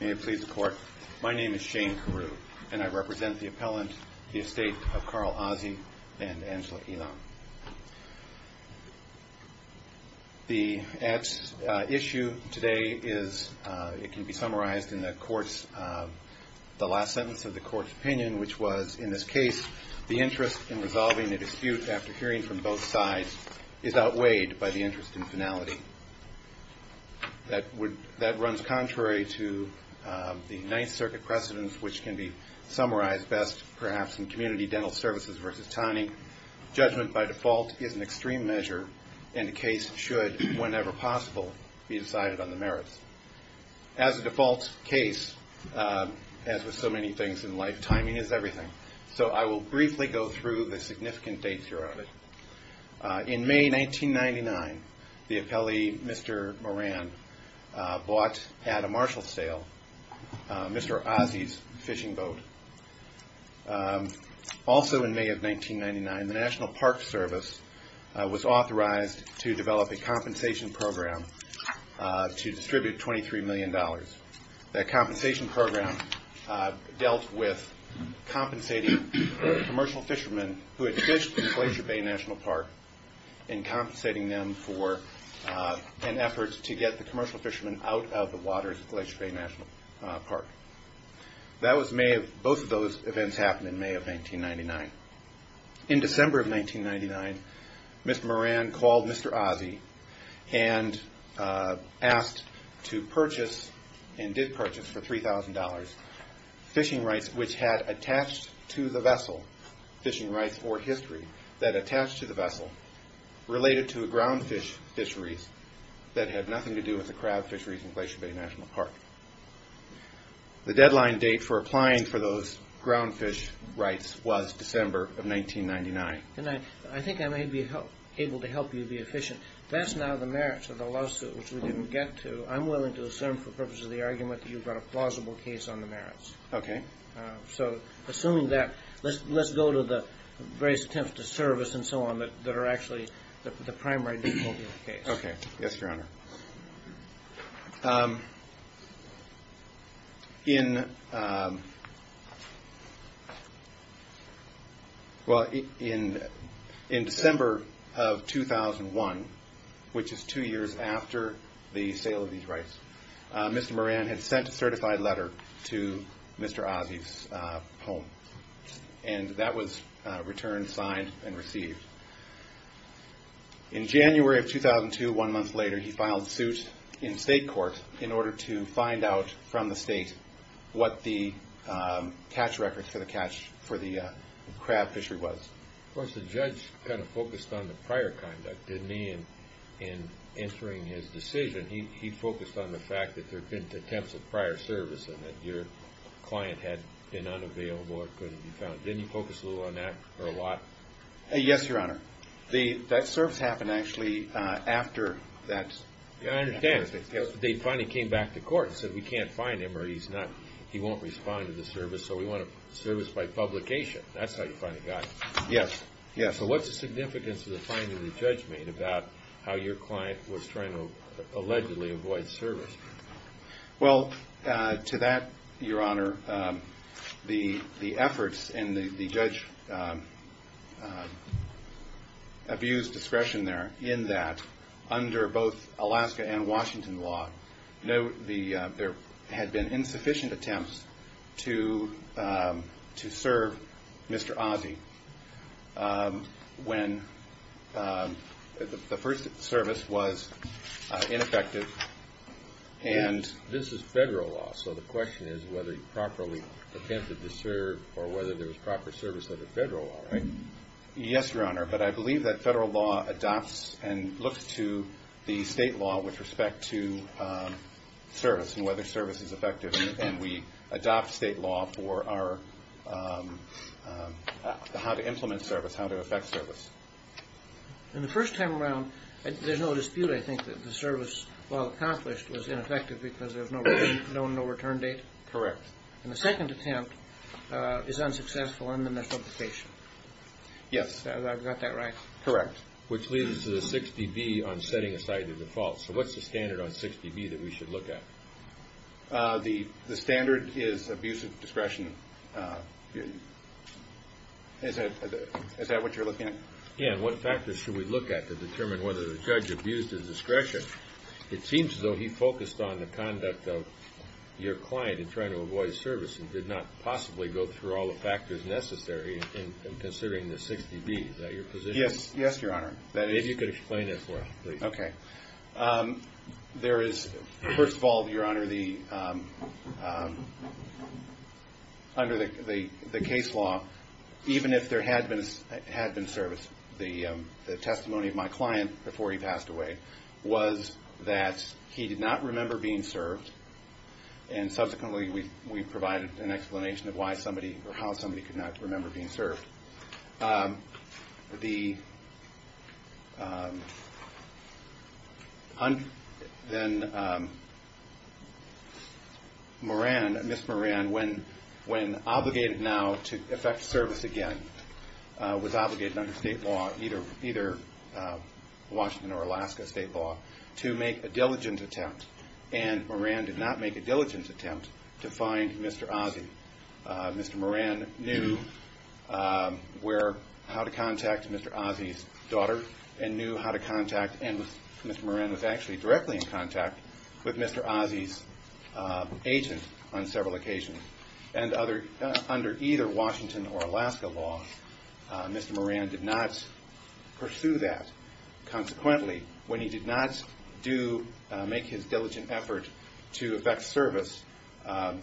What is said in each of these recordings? May it please the court, my name is Shane Carew and I represent the appellant, the estate of Carl Ozzie and Angela Elam. The ad's issue today is, it can be summarized in the court's, the last sentence of the court's opinion which was, in this case, the interest in resolving a dispute after hearing from both sides is outweighed by the interest in finality. That would, that runs contrary to the Ninth Circuit precedence which can be summarized best perhaps in Community Dental Services versus TANI. Judgment by default is an extreme measure and a case should, whenever possible, be decided on the merits. As a default case, as with so many things in life, timing is everything. So I will briefly go through the significant dates here of it. In May 1999, the appellee, Mr. Moran, bought at a Marshall sale Mr. Ozzie's fishing boat. Also in May of 1999, the National Park Service was authorized to develop a compensation program to distribute $23 million. That compensation program dealt with compensating commercial fishermen who had fished in Glacier Bay National Park and compensating them for an effort to get the commercial fishermen out of the waters of Glacier Bay National Park. That was May of, both of those events happened in May of 1999. In December of 1999, Mr. Moran called Mr. Ozzie and asked to purchase, and did purchase for $3,000 fishing rights which had attached to the vessel, fishing rights or history that attached to the vessel related to ground fish fisheries that had nothing to do with the crab fisheries in Glacier Bay National Park. The deadline date for applying for those ground fish rights was December of 1999. And I think I may be able to help you be efficient. That's now the merits of the lawsuit, which we didn't get to. I'm willing to assume for purposes of the argument that you've got a plausible case on the merits. Okay. So assuming that, let's go to the various attempts to serve us and so on that are actually the primary case. Okay. Yes, Your Honor. In December of 2001, which is two years after the sale of these rights, Mr. Moran had sent a certified letter to Mr. Ozzie's home. And that was returned, signed, and received. In January of 2002, one month later, he filed suit in state court in order to find out from the state what the catch records for the crab fishery was. Of course, the judge kind of focused on the prior conduct, didn't he, in answering his decision? He focused on the fact that there had been attempts of prior service and that your client had been unavailable or couldn't be found. Didn't you focus a little on that or a lot? Yes, Your Honor. That service happened actually after that. I understand. They finally came back to court and said, we can't find him or he won't respond to the service, so we want a service by publication. That's how you finally got him. Yes. So what's the significance of the finding the judge made about how your client was trying to allegedly avoid service? Well, to that, Your Honor, the efforts and the judge abused discretion there in that under both Alaska and Washington law, there had been insufficient attempts to serve Mr. Ozzie when the first service was ineffective. This is federal law, so the question is whether he properly attempted to serve or whether there was proper service under federal law, right? Yes, Your Honor, but I believe that federal law adopts and looks to the state law with respect to service and whether service is effective, and we adopt state law for how to implement service, how to effect service. And the first time around, there's no dispute, I think, that the service, while accomplished, was ineffective because there was no return date? Correct. And the second attempt is unsuccessful in the method of the patient? Yes. I've got that right? Correct. Which leads to the 60B on setting aside the defaults. So what's the standard on 60B that we should look at? The standard is abuse of discretion. Is that what you're looking at? Yeah, and what factors should we look at to determine whether the judge abused his discretion? It seems as though he focused on the conduct of your client in trying to avoid service and did not possibly go through all the factors necessary in considering the 60B. Is that your position? Yes, Your Honor. If you could explain it for us, please. Okay. There is, first of all, Your Honor, under the case law, even if there had been service, the testimony of my client before he passed away was that he did not remember being served, and subsequently we provided an explanation of why somebody or how somebody could not remember being served. Then Ms. Moran, when obligated now to effect service again, was obligated under state law, either Washington or Alaska state law, to make a diligence attempt, and Moran did not make a diligence attempt to find Mr. Ozzie. Mr. Moran knew how to contact Mr. Ozzie's daughter and knew how to contact, and Mr. Moran was actually directly in contact with Mr. Ozzie's agent on several occasions. And under either Washington or Alaska law, Mr. Moran did not pursue that. Consequently, when he did not make his diligent effort to effect service,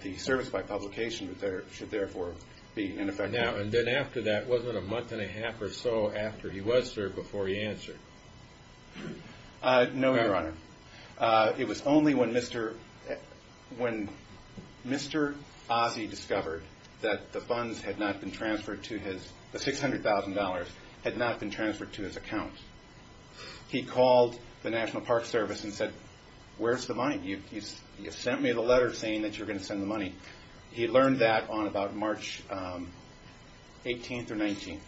the service by publication should therefore be ineffective. Now, and then after that, was it a month and a half or so after he was served before he answered? No, Your Honor. It was only when Mr. Ozzie discovered that the funds had not been transferred to his, the $600,000 had not been transferred to his account, he called the National Park Service and said, Where's the money? You sent me the letter saying that you're going to send the money. He learned that on about March 18th or 19th,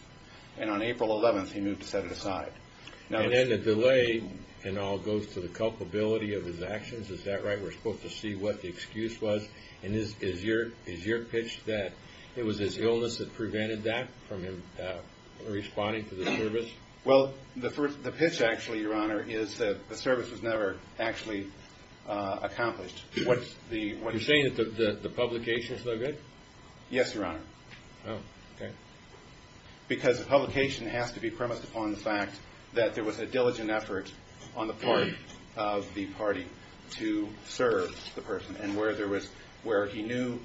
and on April 11th he moved to set it aside. And then the delay in all goes to the culpability of his actions, is that right? We're supposed to see what the excuse was, and is your pitch that it was his illness that prevented that from him responding to the service? Well, the pitch actually, Your Honor, is that the service was never actually accomplished. You're saying that the publication is no good? Yes, Your Honor. Oh, okay. Because the publication has to be premised upon the fact that there was a diligent effort on the part of the party to serve the person, and where there was, where he knew.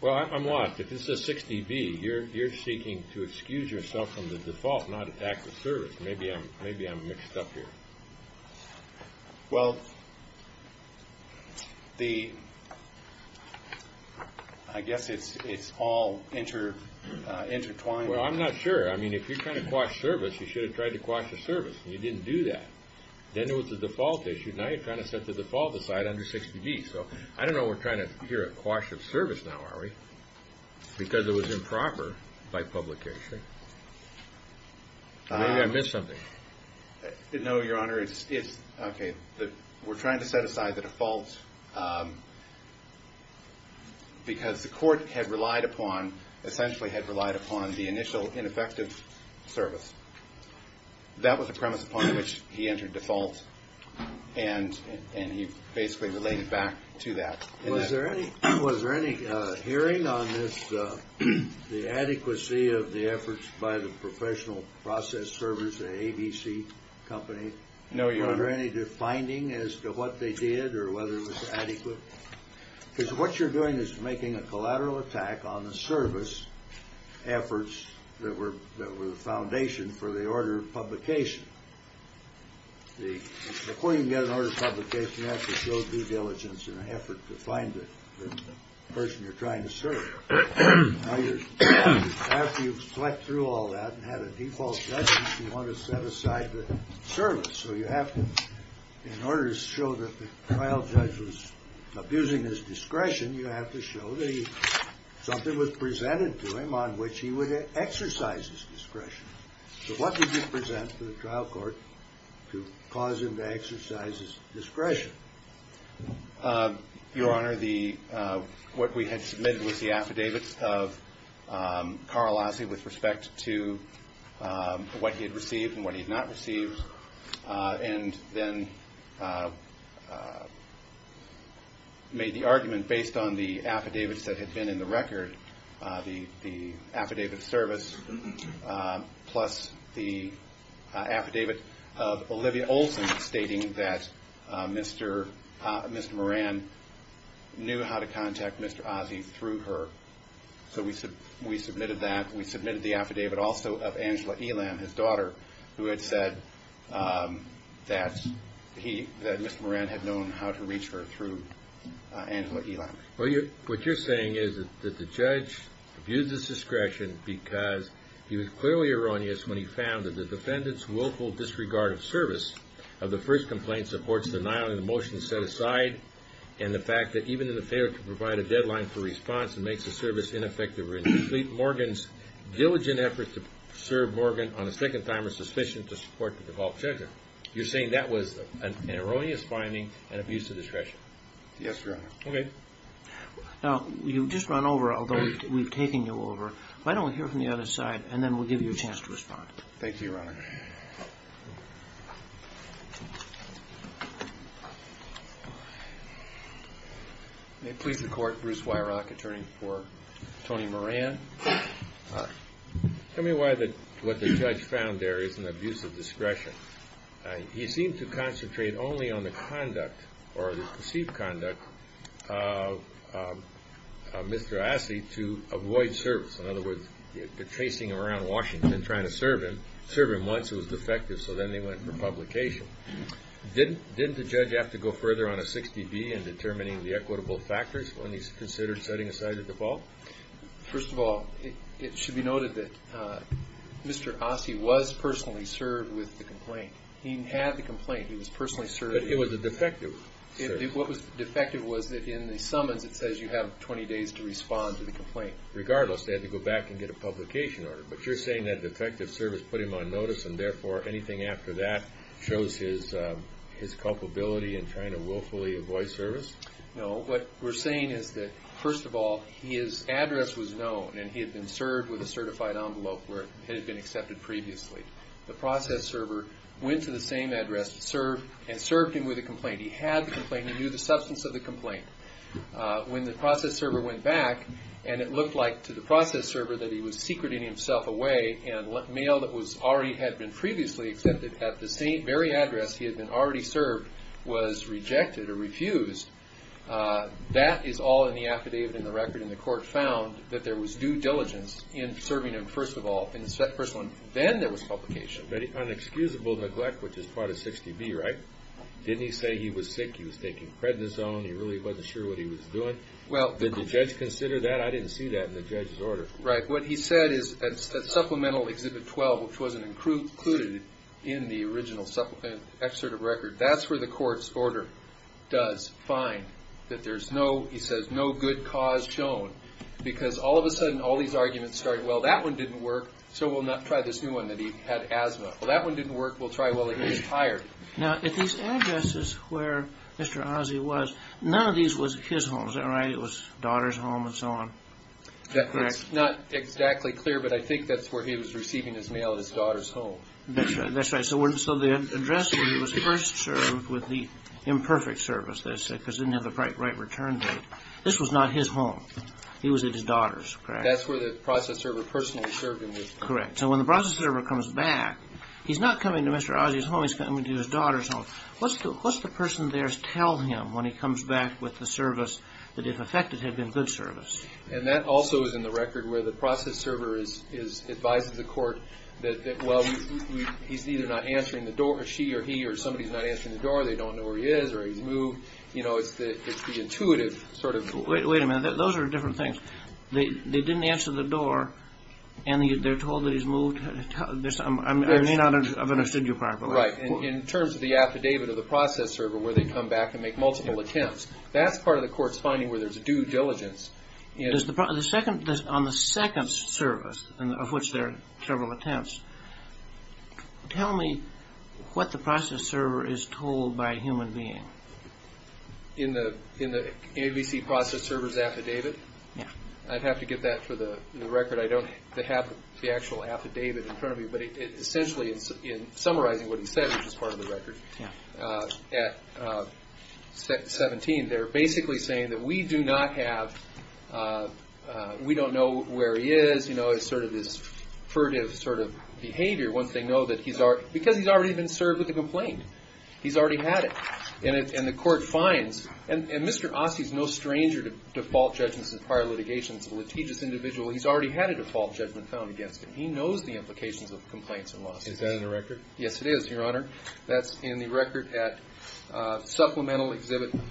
Well, I'm lost. If this is 60B, you're seeking to excuse yourself from the default, not attack the service. Maybe I'm mixed up here. Well, the, I guess it's all intertwined. Well, I'm not sure. I mean, if you're trying to quash service, you should have tried to quash the service, and you didn't do that. Then it was the default issue. Now you're trying to set the default aside under 60B. So I don't know we're trying to hear a quash of service now, are we? Because it was improper by publication. Maybe I missed something. No, Your Honor, it's, okay, we're trying to set aside the default because the court had relied upon, essentially had relied upon the initial ineffective service. That was the premise upon which he entered default, and he basically related back to that. Was there any hearing on this, the adequacy of the efforts by the professional process service, the ABC company? No, Your Honor. Was there any finding as to what they did or whether it was adequate? Because what you're doing is making a collateral attack on the service efforts that were the foundation for the order of publication. Before you can get an order of publication, you have to show due diligence in an effort to find the person you're trying to serve. Now you're, after you've slept through all that and had a default judgment, you want to set aside the service. So you have to, in order to show that the trial judge was abusing his discretion, you have to show that something was presented to him on which he would exercise his discretion. So what did you present to the trial court to cause him to exercise his discretion? Your Honor, the, what we had submitted was the affidavits of Carl Lassie with respect to what he had received and what he had not received, and then made the argument based on the affidavits that had been in the record, the affidavit of service plus the affidavit of Olivia Olsen stating that Mr. Moran knew how to contact Mr. Ossie through her. So we submitted that. We submitted the affidavit also of Angela Elam, his daughter, who had said that Mr. Moran had known how to reach her through Angela Elam. Well, what you're saying is that the judge abused his discretion because he was clearly erroneous when he found that the defendant's willful disregard of service of the first complaint supports the denial of the motion set aside and the fact that even in the failure to provide a deadline for response and makes the service ineffective or incomplete, Morgan's diligent efforts to serve Morgan on the second time are sufficient to support the default judgment. You're saying that was an erroneous finding and abuse of discretion? Yes, Your Honor. Okay. Now, you've just run over, although we've taken you over. Why don't we hear from the other side, and then we'll give you a chance to respond. Thank you, Your Honor. All right. May it please the Court, Bruce Weirach, attorney for Tony Moran. All right. Tell me why what the judge found there is an abuse of discretion. He seemed to concentrate only on the conduct or the perceived conduct of Mr. Assi to avoid service. In other words, they're chasing him around Washington trying to serve him. Serve him once, it was defective, so then they went for publication. Didn't the judge have to go further on a 60B in determining the equitable factors when he's considered setting aside the default? First of all, it should be noted that Mr. Assi was personally served with the complaint. He had the complaint. He was personally served. But it was a defective service. What was defective was that in the summons it says you have 20 days to respond to the complaint. Regardless, they had to go back and get a publication order. But you're saying that defective service put him on notice and therefore anything after that shows his culpability in trying to willfully avoid service? No. What we're saying is that, first of all, his address was known and he had been served with a certified envelope where it had been accepted previously. The process server went to the same address and served him with a complaint. He had the complaint. He knew the substance of the complaint. When the process server went back and it looked like to the process server that he was secreting himself away and mail that already had been previously accepted at the same very address he had been already served was rejected or refused, that is all in the affidavit in the record and the court found that there was due diligence in serving him, first of all. Then there was publication. Unexcusable neglect, which is part of 60B, right? Didn't he say he was sick? He was taking prednisone. He really wasn't sure what he was doing? Well, did the judge consider that? I didn't see that in the judge's order. Right. What he said is at Supplemental Exhibit 12, which was included in the original supplement excerpt of record, that's where the court's order does find that there's no, he says, no good cause shown because all of a sudden all these arguments started, well, that one didn't work, so we'll not try this new one that he had asthma. Well, that one didn't work, we'll try, well, he was tired. Now, at these addresses where Mr. Ozzie was, none of these was his home, is that right? It was daughter's home and so on? That's not exactly clear, but I think that's where he was receiving his mail, his daughter's home. That's right. So the address where he was first served with the imperfect service, because he didn't have the right return date, this was not his home. He was at his daughter's, correct? That's where the process server personally served him. Correct. So when the process server comes back, he's not coming to Mr. Ozzie's home, he's coming to his daughter's home. What does the person there tell him when he comes back with the service that if affected had been good service? And that also is in the record where the process server advises the court that, well, he's either not answering the door, she or he, or somebody's not answering the door, they don't know where he is or he's moved. You know, it's the intuitive sort of rule. Wait a minute. Those are different things. They didn't answer the door and they're told that he's moved. I may not have understood you properly. Right. In terms of the affidavit of the process server where they come back and make multiple attempts, that's part of the court's finding where there's due diligence. On the second service, of which there are several attempts, tell me what the process server is told by a human being. In the ABC process server's affidavit? Yeah. I'd have to get that for the record. I don't have the actual affidavit in front of me, but essentially in summarizing what he said, which is part of the record, at 17, they're basically saying that we do not have, we don't know where he is. You know, it's sort of this furtive sort of behavior once they know that he's already, because he's already been served with a complaint. He's already had it. And the court finds, and Mr. Ossie's no stranger to default judgments in prior litigation. He's a litigious individual. He's already had a default judgment found against him. He knows the implications of complaints and losses. Is that in the record? Yes, it is, Your Honor. That's in the record at Supplemental Exhibit 1.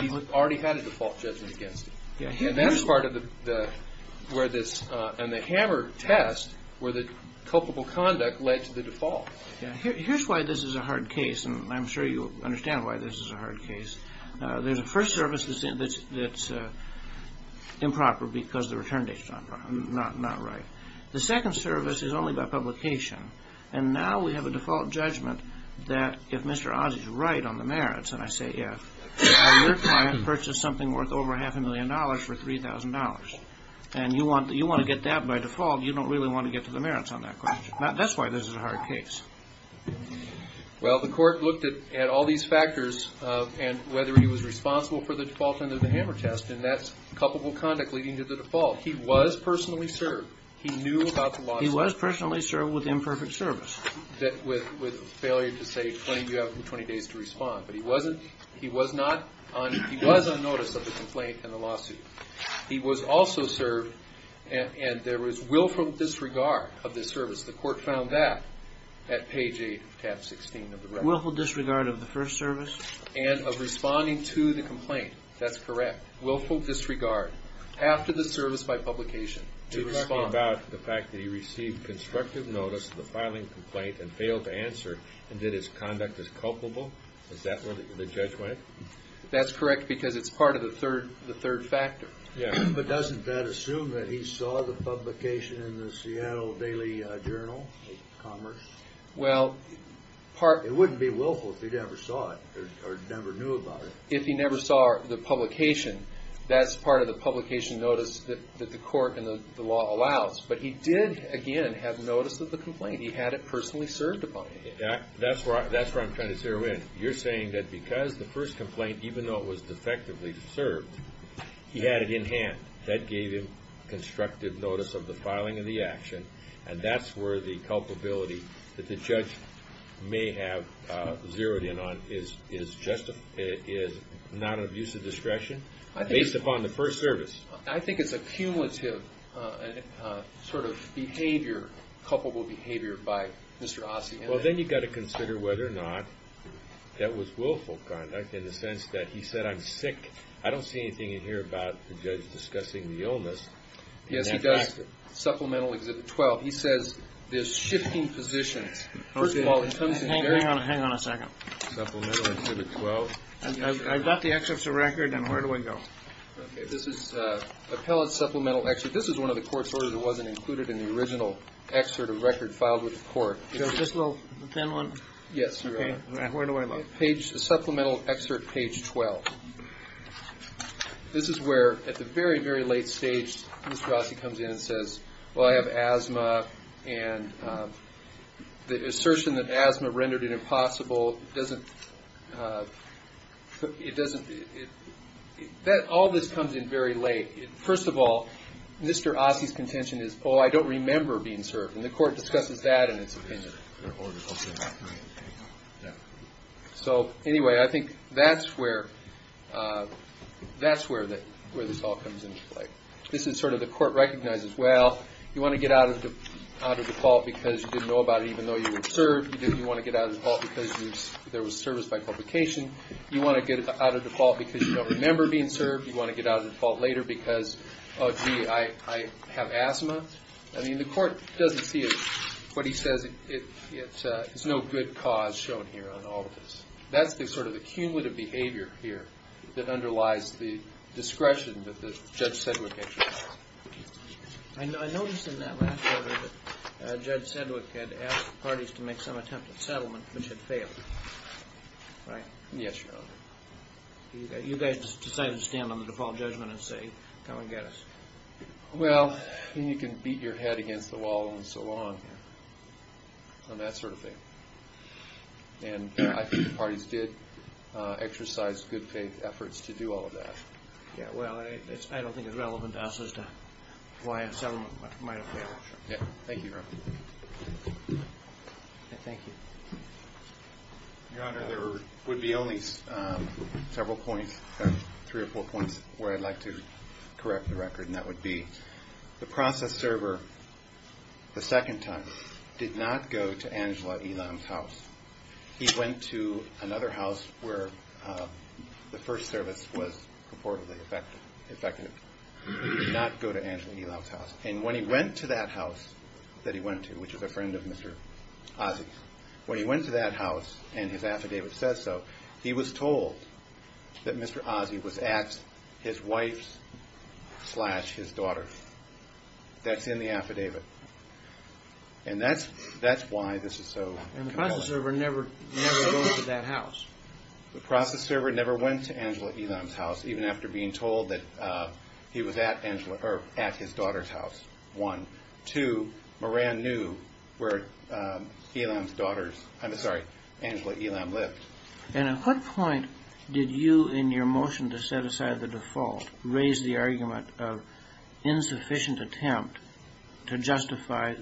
He already had a default judgment against him. And that's part of the, where this, and the Hammer test, where the culpable conduct led to the default. Here's why this is a hard case, and I'm sure you understand why this is a hard case. There's a first service that's improper because the return date's not right. The second service is only about publication. And now we have a default judgment that if Mr. Ossie's right on the merits, and I say if, your client purchased something worth over half a million dollars for $3,000. And you want to get that by default. You don't really want to get to the merits on that question. That's why this is a hard case. Well, the court looked at all these factors, and whether he was responsible for the default under the Hammer test, and that's culpable conduct leading to the default. He was personally served. He knew about the lawsuit. He was personally served with imperfect service. With failure to say, you have 20 days to respond. But he wasn't, he was not, he was on notice of the complaint and the lawsuit. He was also served, and there was willful disregard of this service. The court found that at page 8 of tab 16 of the record. Willful disregard of the first service? And of responding to the complaint. That's correct. Willful disregard after the service by publication to respond. You're talking about the fact that he received constructive notice of the filing complaint and failed to answer, and that his conduct is culpable? Is that where the judge went? That's correct because it's part of the third factor. But doesn't that assume that he saw the publication in the Seattle Daily Journal of Commerce? It wouldn't be willful if he never saw it or never knew about it. If he never saw the publication, that's part of the publication notice that the court and the law allows. But he did, again, have notice of the complaint. He had it personally served upon him. That's where I'm trying to zero in. You're saying that because the first complaint, even though it was defectively served, he had it in hand. That gave him constructive notice of the filing and the action, and that's where the culpability that the judge may have zeroed in on is not an abuse of discretion based upon the first service. I think it's a cumulative sort of behavior, culpable behavior, by Mr. Ossian. Well, then you've got to consider whether or not that was willful conduct in the sense that he said, I'm sick. I don't see anything in here about the judge discussing the illness. Yes, he does. Supplemental Exhibit 12. He says there's shifting positions. Hang on a second. Supplemental Exhibit 12. I've got the excerpts of record, and where do I go? This is Appellate Supplemental Excerpt. This is one of the court's orders. It wasn't included in the original excerpt of record filed with the court. This little thin one? Yes, Your Honor. Where do I look? Supplemental Excerpt Page 12. This is where, at the very, very late stage, Mr. Ossian comes in and says, well, I have asthma, and the assertion that asthma rendered it impossible doesn't – it doesn't – all this comes in very late. First of all, Mr. Ossian's contention is, oh, I don't remember being served, and the court discusses that in its opinion. So, anyway, I think that's where this all comes into play. This is sort of the court recognizes, well, you want to get out of default because you didn't know about it even though you were served. You want to get out of default because there was service by publication. You want to get out of default because you don't remember being served. You want to get out of default later because, oh, gee, I have asthma. I mean, the court doesn't see it. What he says, it's no good cause shown here on all of this. That's the sort of the cumulative behavior here that underlies the discretion that Judge Sedgwick had chosen. I noticed in that last order that Judge Sedgwick had asked the parties to make some attempt at settlement, which had failed, right? Yes, Your Honor. You guys decided to stand on the default judgment and say, come and get us. Well, you can beat your head against the wall and so on and that sort of thing. I think the parties did exercise good faith efforts to do all of that. Well, I don't think it's relevant to us as to why a settlement might have failed. Thank you, Your Honor. Thank you. Your Honor, there would be only several points, three or four points, where I'd like to correct the record, and that would be the process server, the second time, did not go to Angela Elam's house. He went to another house where the first service was purportedly effective. He did not go to Angela Elam's house. And when he went to that house that he went to, which is a friend of Mr. Ozzie's, when he went to that house, and his affidavit says so, he was told that Mr. Ozzie was at his wife's slash his daughter's. That's in the affidavit. And that's why this is so compelling. And the process server never goes to that house. The process server never went to Angela Elam's house, even after being told that he was at his daughter's house, one. Two, Moran knew where Elam's daughters, I'm sorry, Angela Elam lived. And at what point did you, in your motion to set aside the default, raise the argument of insufficient attempt to justify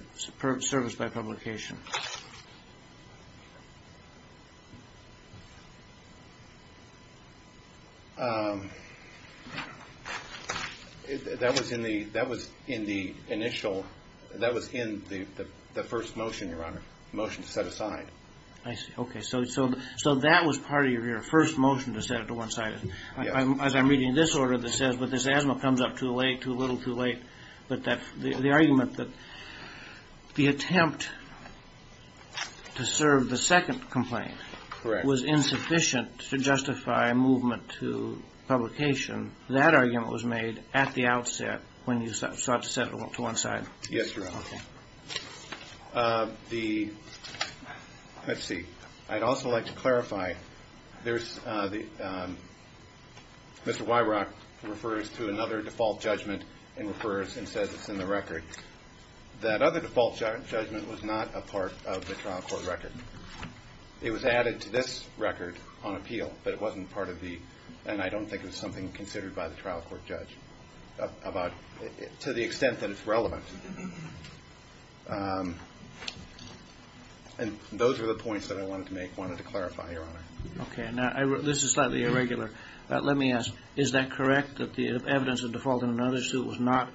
service by publication? That was in the initial, that was in the first motion, Your Honor, motion to set aside. I see. Okay. So that was part of your first motion to set it to one side. As I'm reading this order that says, but this asthma comes up too late, too little, too late. But the argument that the attempt to justify service by publication to serve the second complaint was insufficient to justify a movement to publication. That argument was made at the outset when you start to set it to one side. Yes, Your Honor. Okay. The, let's see. I'd also like to clarify. There's the, Mr. Weirach refers to another default judgment and refers and says it's in the record. That other default judgment was not a part of the trial court record. It was added to this record on appeal, but it wasn't part of the, and I don't think it was something considered by the trial court judge about, to the extent that it's relevant. And those are the points that I wanted to make, wanted to clarify, Your Honor. Okay. Now, this is slightly irregular. Let me ask, is that correct that the evidence of default in another suit was not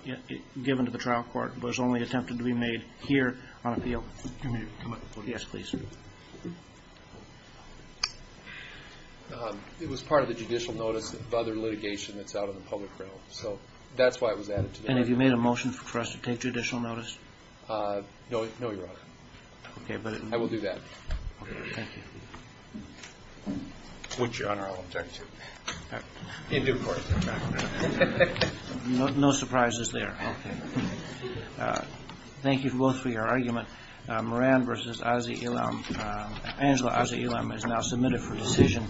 given to the trial court but was only attempted to be made here on appeal? Yes, please. It was part of the judicial notice of other litigation that's out in the public realm. So that's why it was added to the record. And have you made a motion for us to take judicial notice? No, Your Honor. I will do that. Okay. Thank you. Would you, Your Honor, I will object to it. You do, of course. No surprises there. Okay. Thank you both for your argument. Moran v. Ossie Elam. Angela Ossie Elam is now submitted for decision.